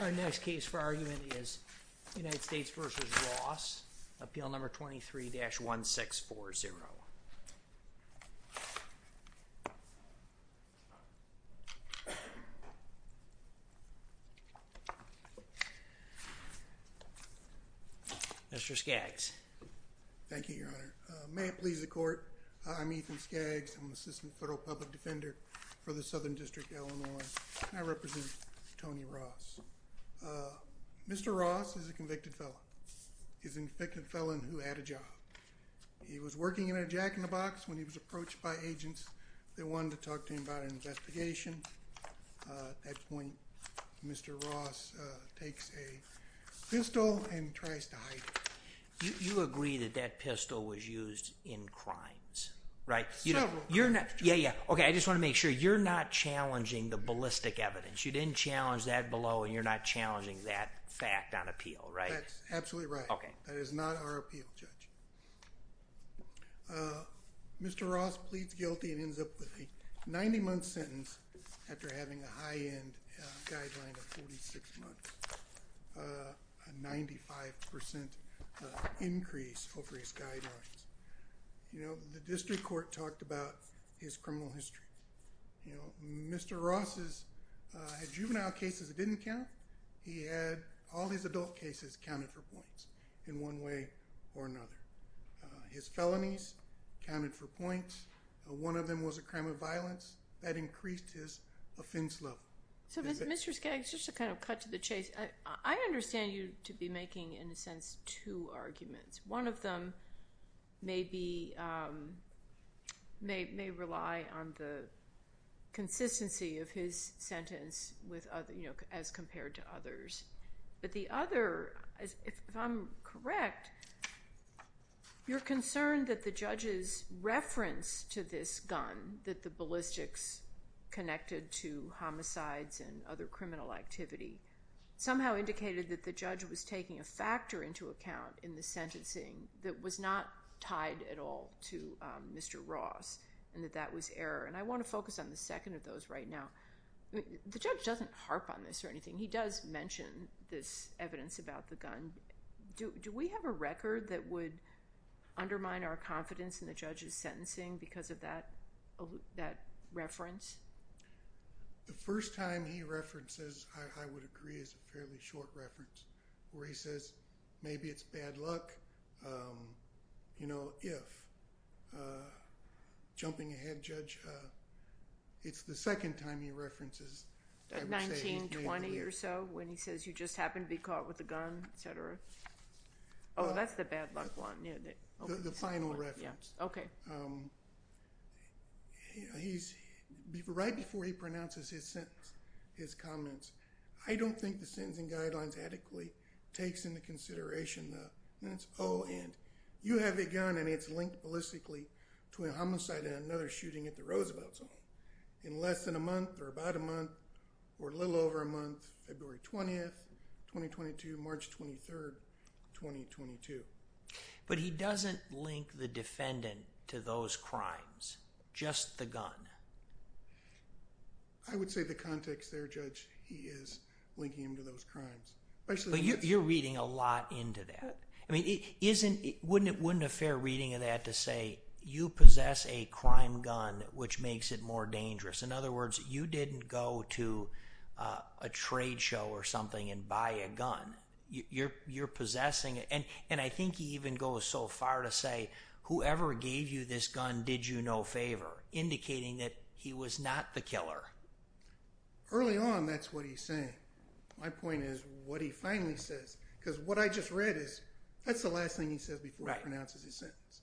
Our next case for argument is United States v. Ross, Appeal No. 23-1640. Mr. Skaggs. Thank you, Your Honor. May it please the Court, I'm Ethan Skaggs. I'm the Assistant Federal Public Defender for the Southern District of Illinois. I represent Tony Ross. Mr. Ross is a convicted felon. He's a convicted felon who had a job. He was working in a jack-in-the-box when he was approached by agents that wanted to talk to him about an investigation. At that point, Mr. Ross takes a pistol and tries to hide it. You agree that that pistol was used in crimes, right? Several. Yeah, yeah. Okay, I just want to make sure. You're not challenging the ballistic evidence. You didn't challenge that below, and you're not challenging that fact on appeal, right? That's absolutely right. Okay. That is not our appeal, Judge. Mr. Ross pleads guilty and ends up with a 90-month sentence after having a high-end guideline of 46 months, a 95% increase over his guidelines. The district court talked about his criminal history. Mr. Ross had juvenile cases that didn't count. He had all his adult cases counted for points in one way or another. His felonies counted for points. One of them was a crime of violence. That increased his offense level. So, Mr. Skaggs, just to kind of cut to the chase, I understand you to be making, in a sense, two arguments. One of them may rely on the consistency of his sentence as compared to others. But the other, if I'm correct, you're concerned that the judge's reference to this gun, that the ballistics connected to homicides and other criminal activity, somehow indicated that the judge was taking a factor into account in the sentencing that was not tied at all to Mr. Ross and that that was error. And I want to focus on the second of those right now. The judge doesn't harp on this or anything. He does mention this evidence about the gun. Do we have a record that would undermine our confidence in the judge's sentencing because of that reference? The first time he references, I would agree, is a fairly short reference where he says maybe it's bad luck, you know, if. Jumping ahead, Judge, it's the second time he references. 1920 or so, when he says you just happened to be caught with a gun, et cetera. Oh, that's the bad luck one. The final reference. Okay. He's right before he pronounces his sentence. His comments. I don't think the sentencing guidelines adequately takes into consideration the minutes. Oh, and you have a gun and it's linked ballistically to a homicide and another shooting at the Roosevelt in less than a month or about a month or a little over a month. February 20th, 2022, March 23rd, 2022. But he doesn't link the defendant to those crimes. Just the gun. I would say the context there, Judge, he is linking them to those crimes. But you're reading a lot into that. I mean, wouldn't it be a fair reading of that to say you possess a crime gun which makes it more dangerous? In other words, you didn't go to a trade show or something and buy a gun. You're possessing it. And I think he even goes so far to say whoever gave you this gun did you no favor, indicating that he was not the killer. Early on, that's what he's saying. My point is what he finally says. Because what I just read is that's the last thing he says before he pronounces his sentence.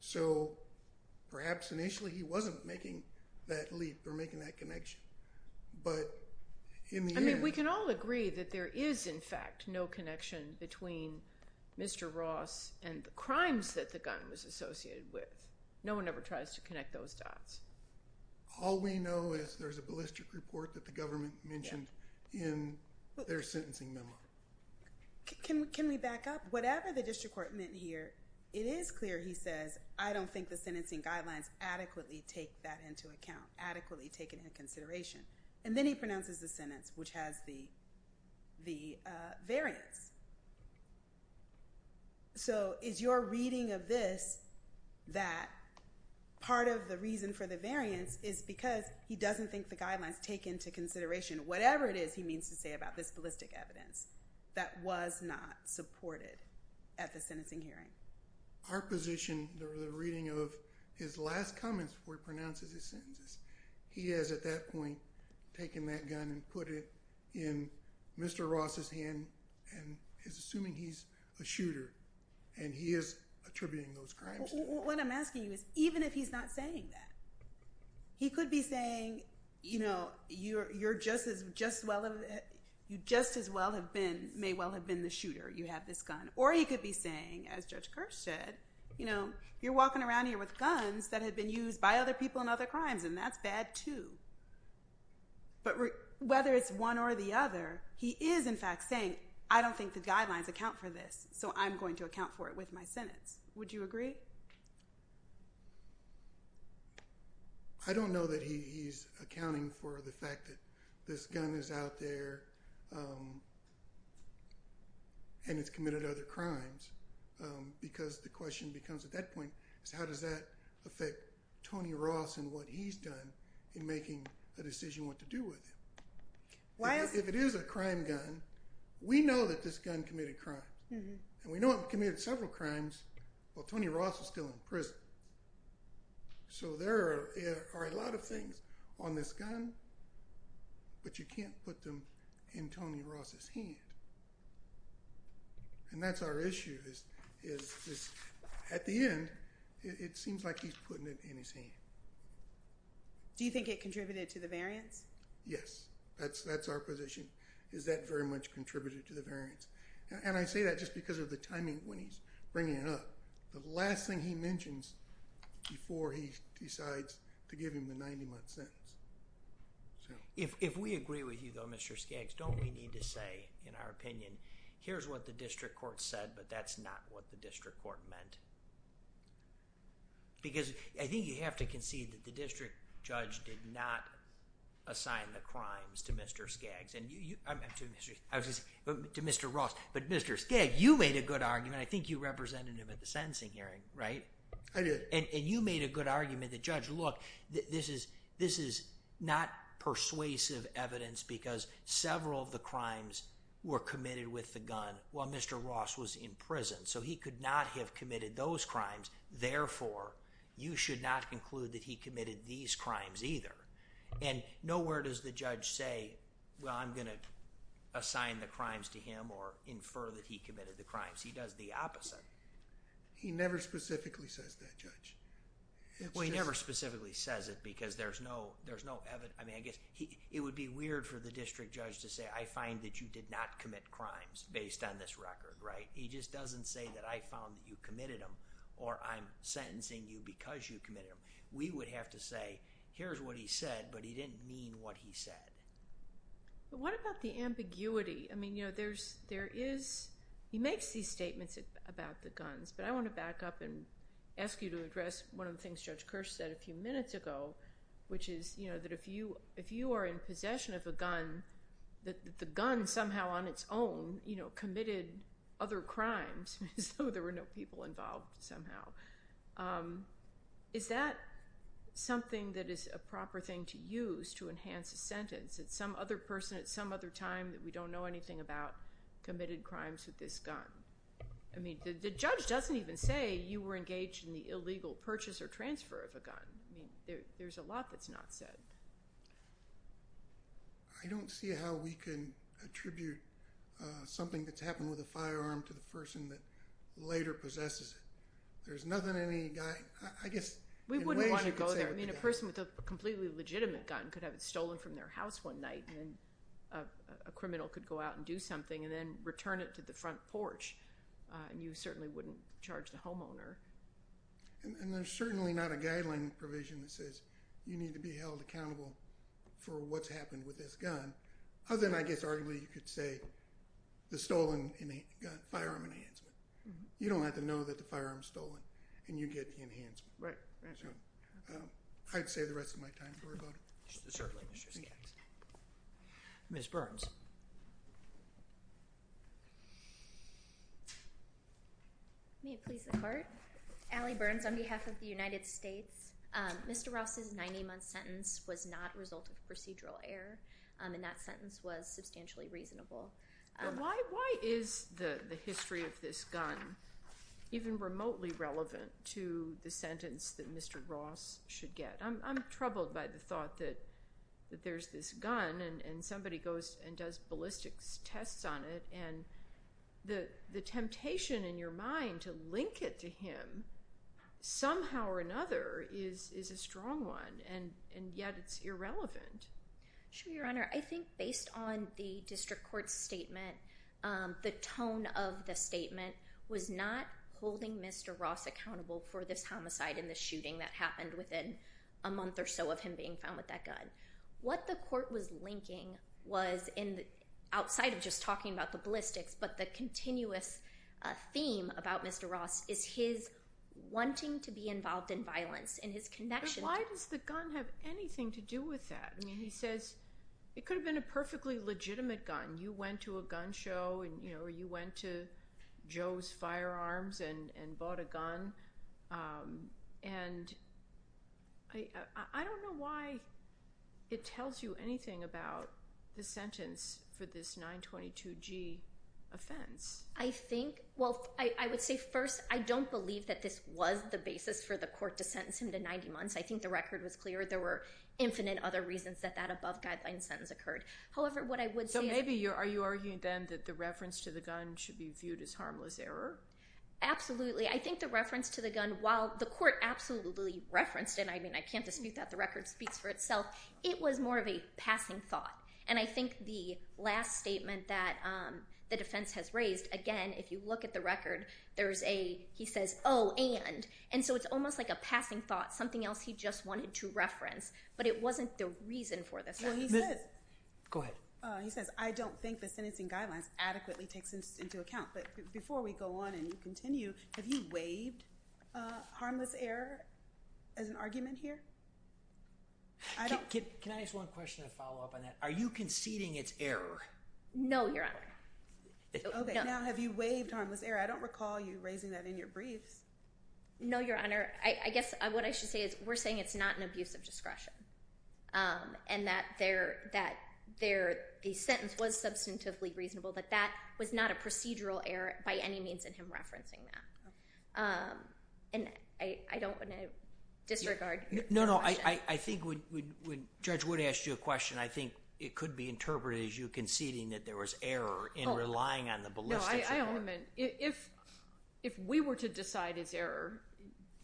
So perhaps initially he wasn't making that leap or making that connection. I mean, we can all agree that there is, in fact, no connection between Mr. Ross and the crimes that the gun was associated with. No one ever tries to connect those dots. All we know is there's a ballistic report that the government mentioned in their sentencing memo. Can we back up? Whatever the district court meant here, it is clear, he says, I don't think the sentencing guidelines adequately take that into account, adequately taken into consideration. And then he pronounces the sentence, which has the variance. So is your reading of this that part of the reason for the variance is because he doesn't think the guidelines take into consideration whatever it is he means to say about this ballistic evidence that was not supported at the sentencing hearing? Our position, the reading of his last comments before he pronounces his sentences, he has at that point taken that gun and put it in Mr. Ross's hand and is assuming he's a shooter. And he is attributing those crimes. What I'm asking you is, even if he's not saying that, he could be saying, you know, you just as well may well have been the shooter. You have this gun. Or he could be saying, as Judge Kerr said, you know, you're walking around here with guns that have been used by other people in other crimes, and that's bad, too. But whether it's one or the other, he is, in fact, saying, I don't think the guidelines account for this, so I'm going to account for it with my sentence. Would you agree? I don't know that he's accounting for the fact that this gun is out there and it's committed other crimes, because the question becomes at that point is, how does that affect Tony Ross and what he's done in making the decision what to do with it? If it is a crime gun, we know that this gun committed crime. And we know it committed several crimes while Tony Ross is still in prison. So there are a lot of things on this gun, but you can't put them in Tony Ross' hand. And that's our issue, is at the end, it seems like he's putting it in his hand. Do you think it contributed to the variance? Yes. That's our position, is that very much contributed to the variance. And I say that just because of the timing when he's bringing it up. The last thing he mentions before he decides to give him the 90-month sentence. If we agree with you, though, Mr. Skaggs, don't we need to say, in our opinion, here's what the district court said, but that's not what the district court meant? Because I think you have to concede that the district judge did not assign the crimes to Mr. Skaggs. To Mr. Ross. But Mr. Skaggs, you made a good argument. I think you represented him at the sentencing hearing, right? I did. And you made a good argument that, Judge, look, this is not persuasive evidence because several of the crimes were committed with the gun while Mr. Ross was in prison. So he could not have committed those crimes. Therefore, you should not conclude that he committed these crimes either. And nowhere does the judge say, well, I'm going to assign the crimes to him or infer that he committed the crimes. He does the opposite. He never specifically says that, Judge. Well, he never specifically says it because there's no... I mean, I guess it would be weird for the district judge to say, I find that you did not commit crimes based on this record, right? He just doesn't say that I found that you committed them or I'm sentencing you because you committed them. We would have to say, here's what he said, but he didn't mean what he said. What about the ambiguity? I mean, there is... he makes these statements about the guns, but I want to back up and ask you to address one of the things Judge Kirsch said a few minutes ago, which is that if you are in possession of a gun, that the gun somehow on its own committed other crimes as though there were no people involved somehow. Is that something that is a proper thing to use to enhance a sentence? It's some other person at some other time that we don't know anything about committed crimes with this gun. I mean, the judge doesn't even say you were engaged in the illegal purchase or transfer of a gun. There's a lot that's not said. I don't see how we can attribute something that's happened with a firearm to the person that later possesses it. There's nothing any guy... I guess... We wouldn't want to go there. I mean, a person with a completely legitimate gun could have it stolen from their house one night and a criminal could go out and do something and then return it to the front porch and you certainly wouldn't charge the homeowner. And there's certainly not a guideline provision that says you need to be held accountable for what's happened with this gun other than I guess arguably you could say the stolen firearm enhancement. You don't have to know that the firearm's stolen and you get the enhancement. Right. I'd save the rest of my time to worry about it. Certainly. Ms. Burns. May it please the Court? Allie Burns on behalf of the United States. Mr. Ross's 90-month sentence was not a result of procedural error and that sentence was substantially reasonable. Why is the history of this gun even remotely relevant to the sentence that Mr. Ross should get? I'm troubled by the thought that there's this gun and somebody goes and does ballistics tests on it and the temptation in your mind to link it to him somehow or another is a strong one and yet it's irrelevant. Sure, Your Honor. I think based on the district court's statement, the tone of the statement was not holding Mr. Ross accountable for this homicide and the shooting that happened within a month or so of him being found with that gun. What the court was linking was outside of just talking about the ballistics but the continuous theme about Mr. Ross is his wanting to be involved in violence and his connection. Why does the gun have anything to do with that? He says it could have been a perfectly legitimate gun. You went to a gun show and you went to Joe's Firearms and bought a gun. I don't know why it tells you anything about the sentence for this 922G offense. Well, I would say first I don't believe that this was the basis for the court to sentence him to 90 months. I think the record was clear. There were infinite other reasons that that above guideline sentence occurred. However, what I would say is- So maybe are you arguing then that the reference to the gun should be viewed as harmless error? Absolutely. I think the reference to the gun, while the court absolutely referenced it, I mean I can't dispute that the record speaks for itself, it was more of a passing thought. And I think the last statement that the defense has raised, again, if you look at the record, he says, oh, and. And so it's almost like a passing thought, something else he just wanted to reference. But it wasn't the reason for this. Well, he says- Go ahead. He says, I don't think the sentencing guidelines adequately takes this into account. But before we go on and continue, have you waived harmless error as an argument here? Can I ask one question to follow up on that? Are you conceding it's error? No, Your Honor. Okay, now have you waived harmless error? I don't recall you raising that in your briefs. No, Your Honor. I guess what I should say is we're saying it's not an abuse of discretion and that the sentence was substantively reasonable, but that was not a procedural error by any means in him referencing that. And I don't want to disregard your question. No, no. I think when Judge Wood asked you a question, I think it could be interpreted as you conceding that there was error in relying on the ballistics. No, I only meant if we were to decide it's error,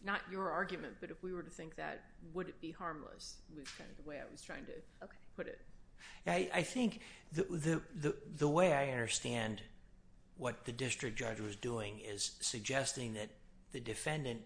not your argument, but if we were to think that, would it be harmless? That's kind of the way I was trying to put it. I think the way I understand what the district judge was doing is suggesting that the defendant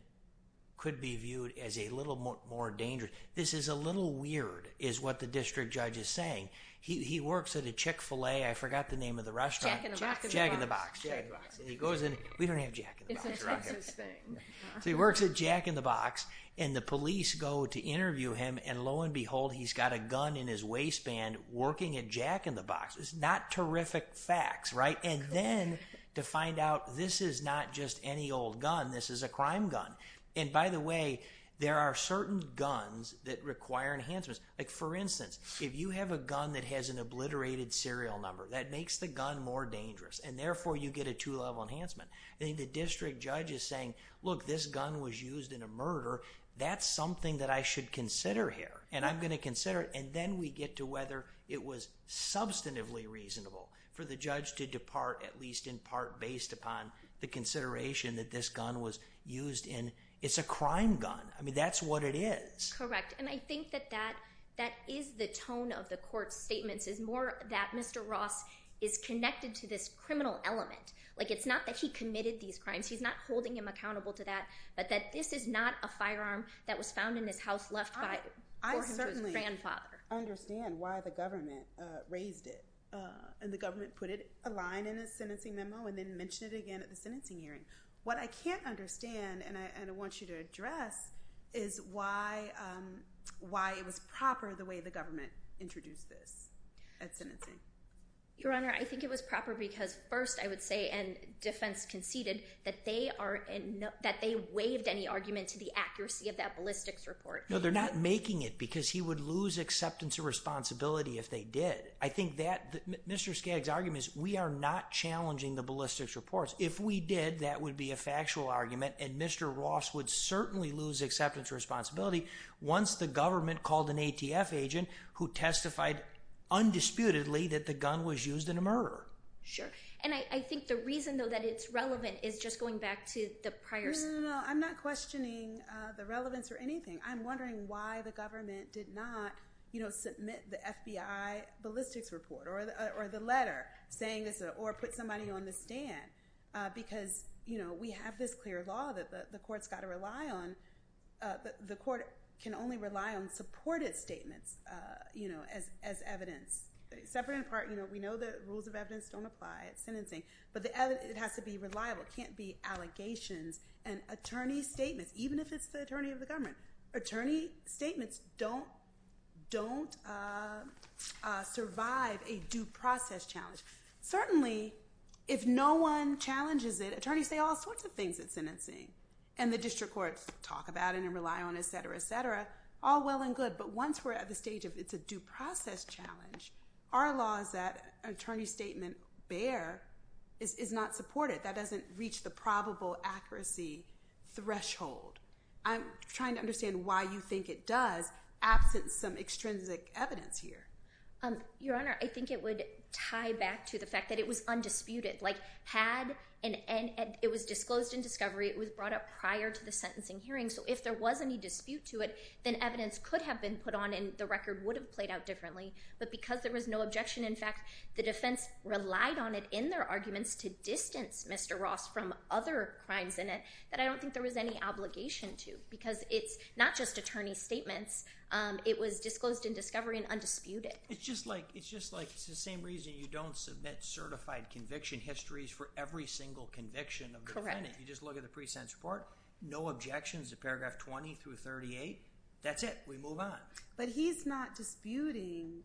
could be viewed as a little more dangerous. This is a little weird is what the district judge is saying. He works at a Chick-fil-A. I forgot the name of the restaurant. Jack in the Box. Jack in the Box. Jack in the Box. And he goes in. We don't have Jack in the Box around here. It's a Texas thing. So he works at Jack in the Box, and the police go to interview him, and lo and behold, he's got a gun in his waistband working at Jack in the Box. It's not terrific facts, right? And then to find out this is not just any old gun, this is a crime gun. And by the way, there are certain guns that require enhancements. Like, for instance, if you have a gun that has an obliterated serial number, that makes the gun more dangerous, and therefore you get a two-level enhancement. The district judge is saying, look, this gun was used in a murder. That's something that I should consider here, and I'm going to consider it. And then we get to whether it was substantively reasonable for the judge to depart, at least in part based upon the consideration that this gun was used in. It's a crime gun. I mean, that's what it is. Correct. And I think that that is the tone of the court's statements, is more that Mr. Ross is connected to this criminal element. Like, it's not that he committed these crimes. He's not holding him accountable to that, but that this is not a firearm that was found in his house left by his grandfather. I certainly understand why the government raised it, and the government put a line in the sentencing memo and then mentioned it again at the sentencing hearing. What I can't understand, and I want you to address, is why it was proper the way the government introduced this at sentencing. Your Honor, I think it was proper because first I would say, and defense conceded, that they waived any argument to the accuracy of that ballistics report. No, they're not making it because he would lose acceptance or responsibility if they did. Mr. Skaggs' argument is we are not challenging the ballistics reports. If we did, that would be a factual argument, and Mr. Ross would certainly lose acceptance or responsibility once the government called an ATF agent who testified undisputedly that the gun was used in a murder. Sure. And I think the reason, though, that it's relevant is just going back to the prior— No, no, no, no, no. I'm not questioning the relevance or anything. I'm wondering why the government did not submit the FBI ballistics report or the letter saying this or put somebody on the stand because we have this clear law that the court's got to rely on, but the court can only rely on supported statements as evidence. Separate and apart, we know the rules of evidence don't apply at sentencing, but it has to be reliable. It can't be allegations and attorney statements, even if it's the attorney of the government. Attorney statements don't survive a due process challenge. Certainly, if no one challenges it, attorneys say all sorts of things at sentencing, and the district courts talk about it and rely on it, et cetera, et cetera, all well and good, but once we're at the stage of it's a due process challenge, our laws that an attorney statement bear is not supported. That doesn't reach the probable accuracy threshold. I'm trying to understand why you think it does, absent some extrinsic evidence here. Your Honor, I think it would tie back to the fact that it was undisputed. It was disclosed in discovery. It was brought up prior to the sentencing hearing, so if there was any dispute to it, then evidence could have been put on and the record would have played out differently, but because there was no objection, in fact, the defense relied on it in their arguments to distance Mr. Ross from other crimes in it that I don't think there was any obligation to, because it's not just attorney statements. It was disclosed in discovery and undisputed. It's just like it's the same reason you don't submit certified conviction histories for every single conviction of the defendant. You just look at the pre-sentence report, no objections to paragraph 20 through 38. That's it. We move on. But he's not disputing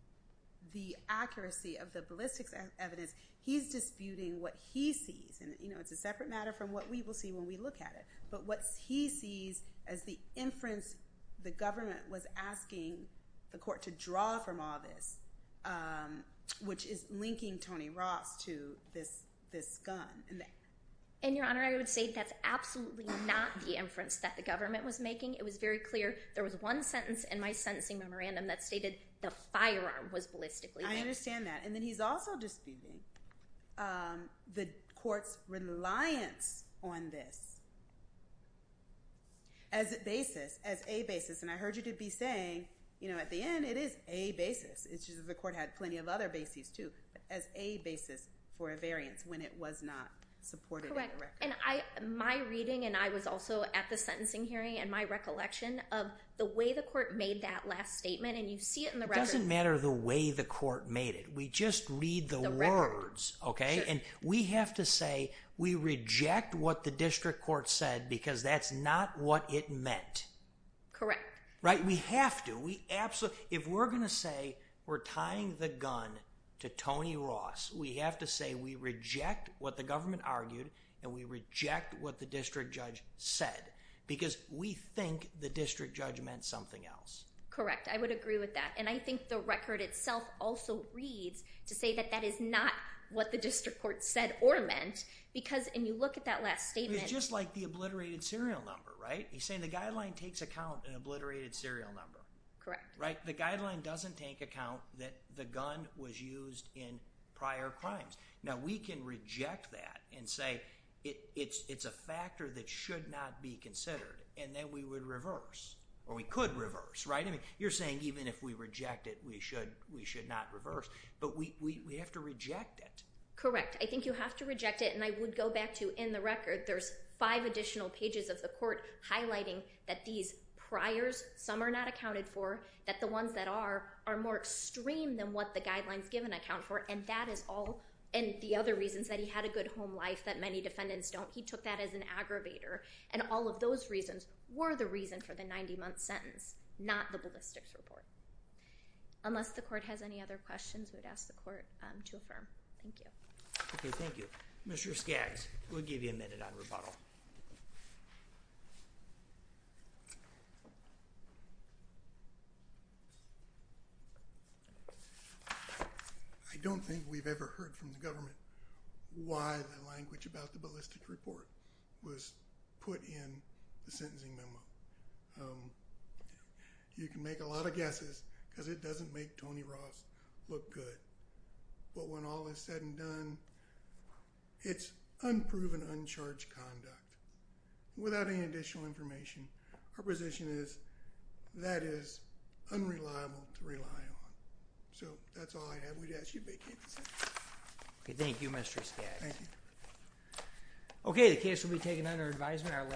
the accuracy of the ballistics evidence. He's disputing what he sees, and it's a separate matter from what we will see when we look at it, but what he sees as the inference the government was asking the court to draw from all this, which is linking Tony Ross to this gun. Your Honor, I would say that's absolutely not the inference that the government was making. It was very clear. There was one sentence in my sentencing memorandum that stated the firearm was ballistically linked. I understand that. And then he's also disputing the court's reliance on this as a basis, and I heard you be saying at the end it is a basis. It's just that the court had plenty of other bases too, as a basis for a variance when it was not supported in the record. Correct. And my reading, and I was also at the sentencing hearing and my recollection of the way the court made that last statement, and you see it in the record. It doesn't matter the way the court made it. We just read the words, okay? Sure. And we have to say we reject what the district court said because that's not what it meant. Correct. Right? We have to. If we're going to say we're tying the gun to Tony Ross, we have to say we reject what the government argued and we reject what the district judge said because we think the district judge meant something else. Correct. I would agree with that. And I think the record itself also reads to say that that is not what the district court said or meant because when you look at that last statement. It's just like the obliterated serial number, right? He's saying the guideline takes account in obliterated serial number. Correct. Right? The guideline doesn't take account that the gun was used in prior crimes. Now, we can reject that and say it's a factor that should not be considered and then we would reverse or we could reverse, right? I mean, you're saying even if we reject it, we should not reverse, but we have to reject it. Correct. I think you have to reject it, and I would go back to in the record, there's five additional pages of the court highlighting that these priors, some are not accounted for, that the ones that are are more extreme than what the guidelines give and account for, and that is all, and the other reasons that he had a good home life that many defendants don't, he took that as an aggravator, and all of those reasons were the reason for the 90-month sentence, not the ballistics report. Unless the court has any other questions, we'd ask the court to affirm. Thank you. Okay, thank you. Mr. Skaggs, we'll give you a minute on rebuttal. I don't think we've ever heard from the government why the language about the ballistics report was put in the sentencing memo. You can make a lot of guesses because it doesn't make Tony Ross look good, but when all is said and done, it's unproven, uncharged conduct. Without any additional information, her position is that is unreliable to rely on. So that's all I have. We'd ask you to vacate the session. Okay, thank you, Mr. Skaggs. Thank you. Okay, the case will be taken under advisement.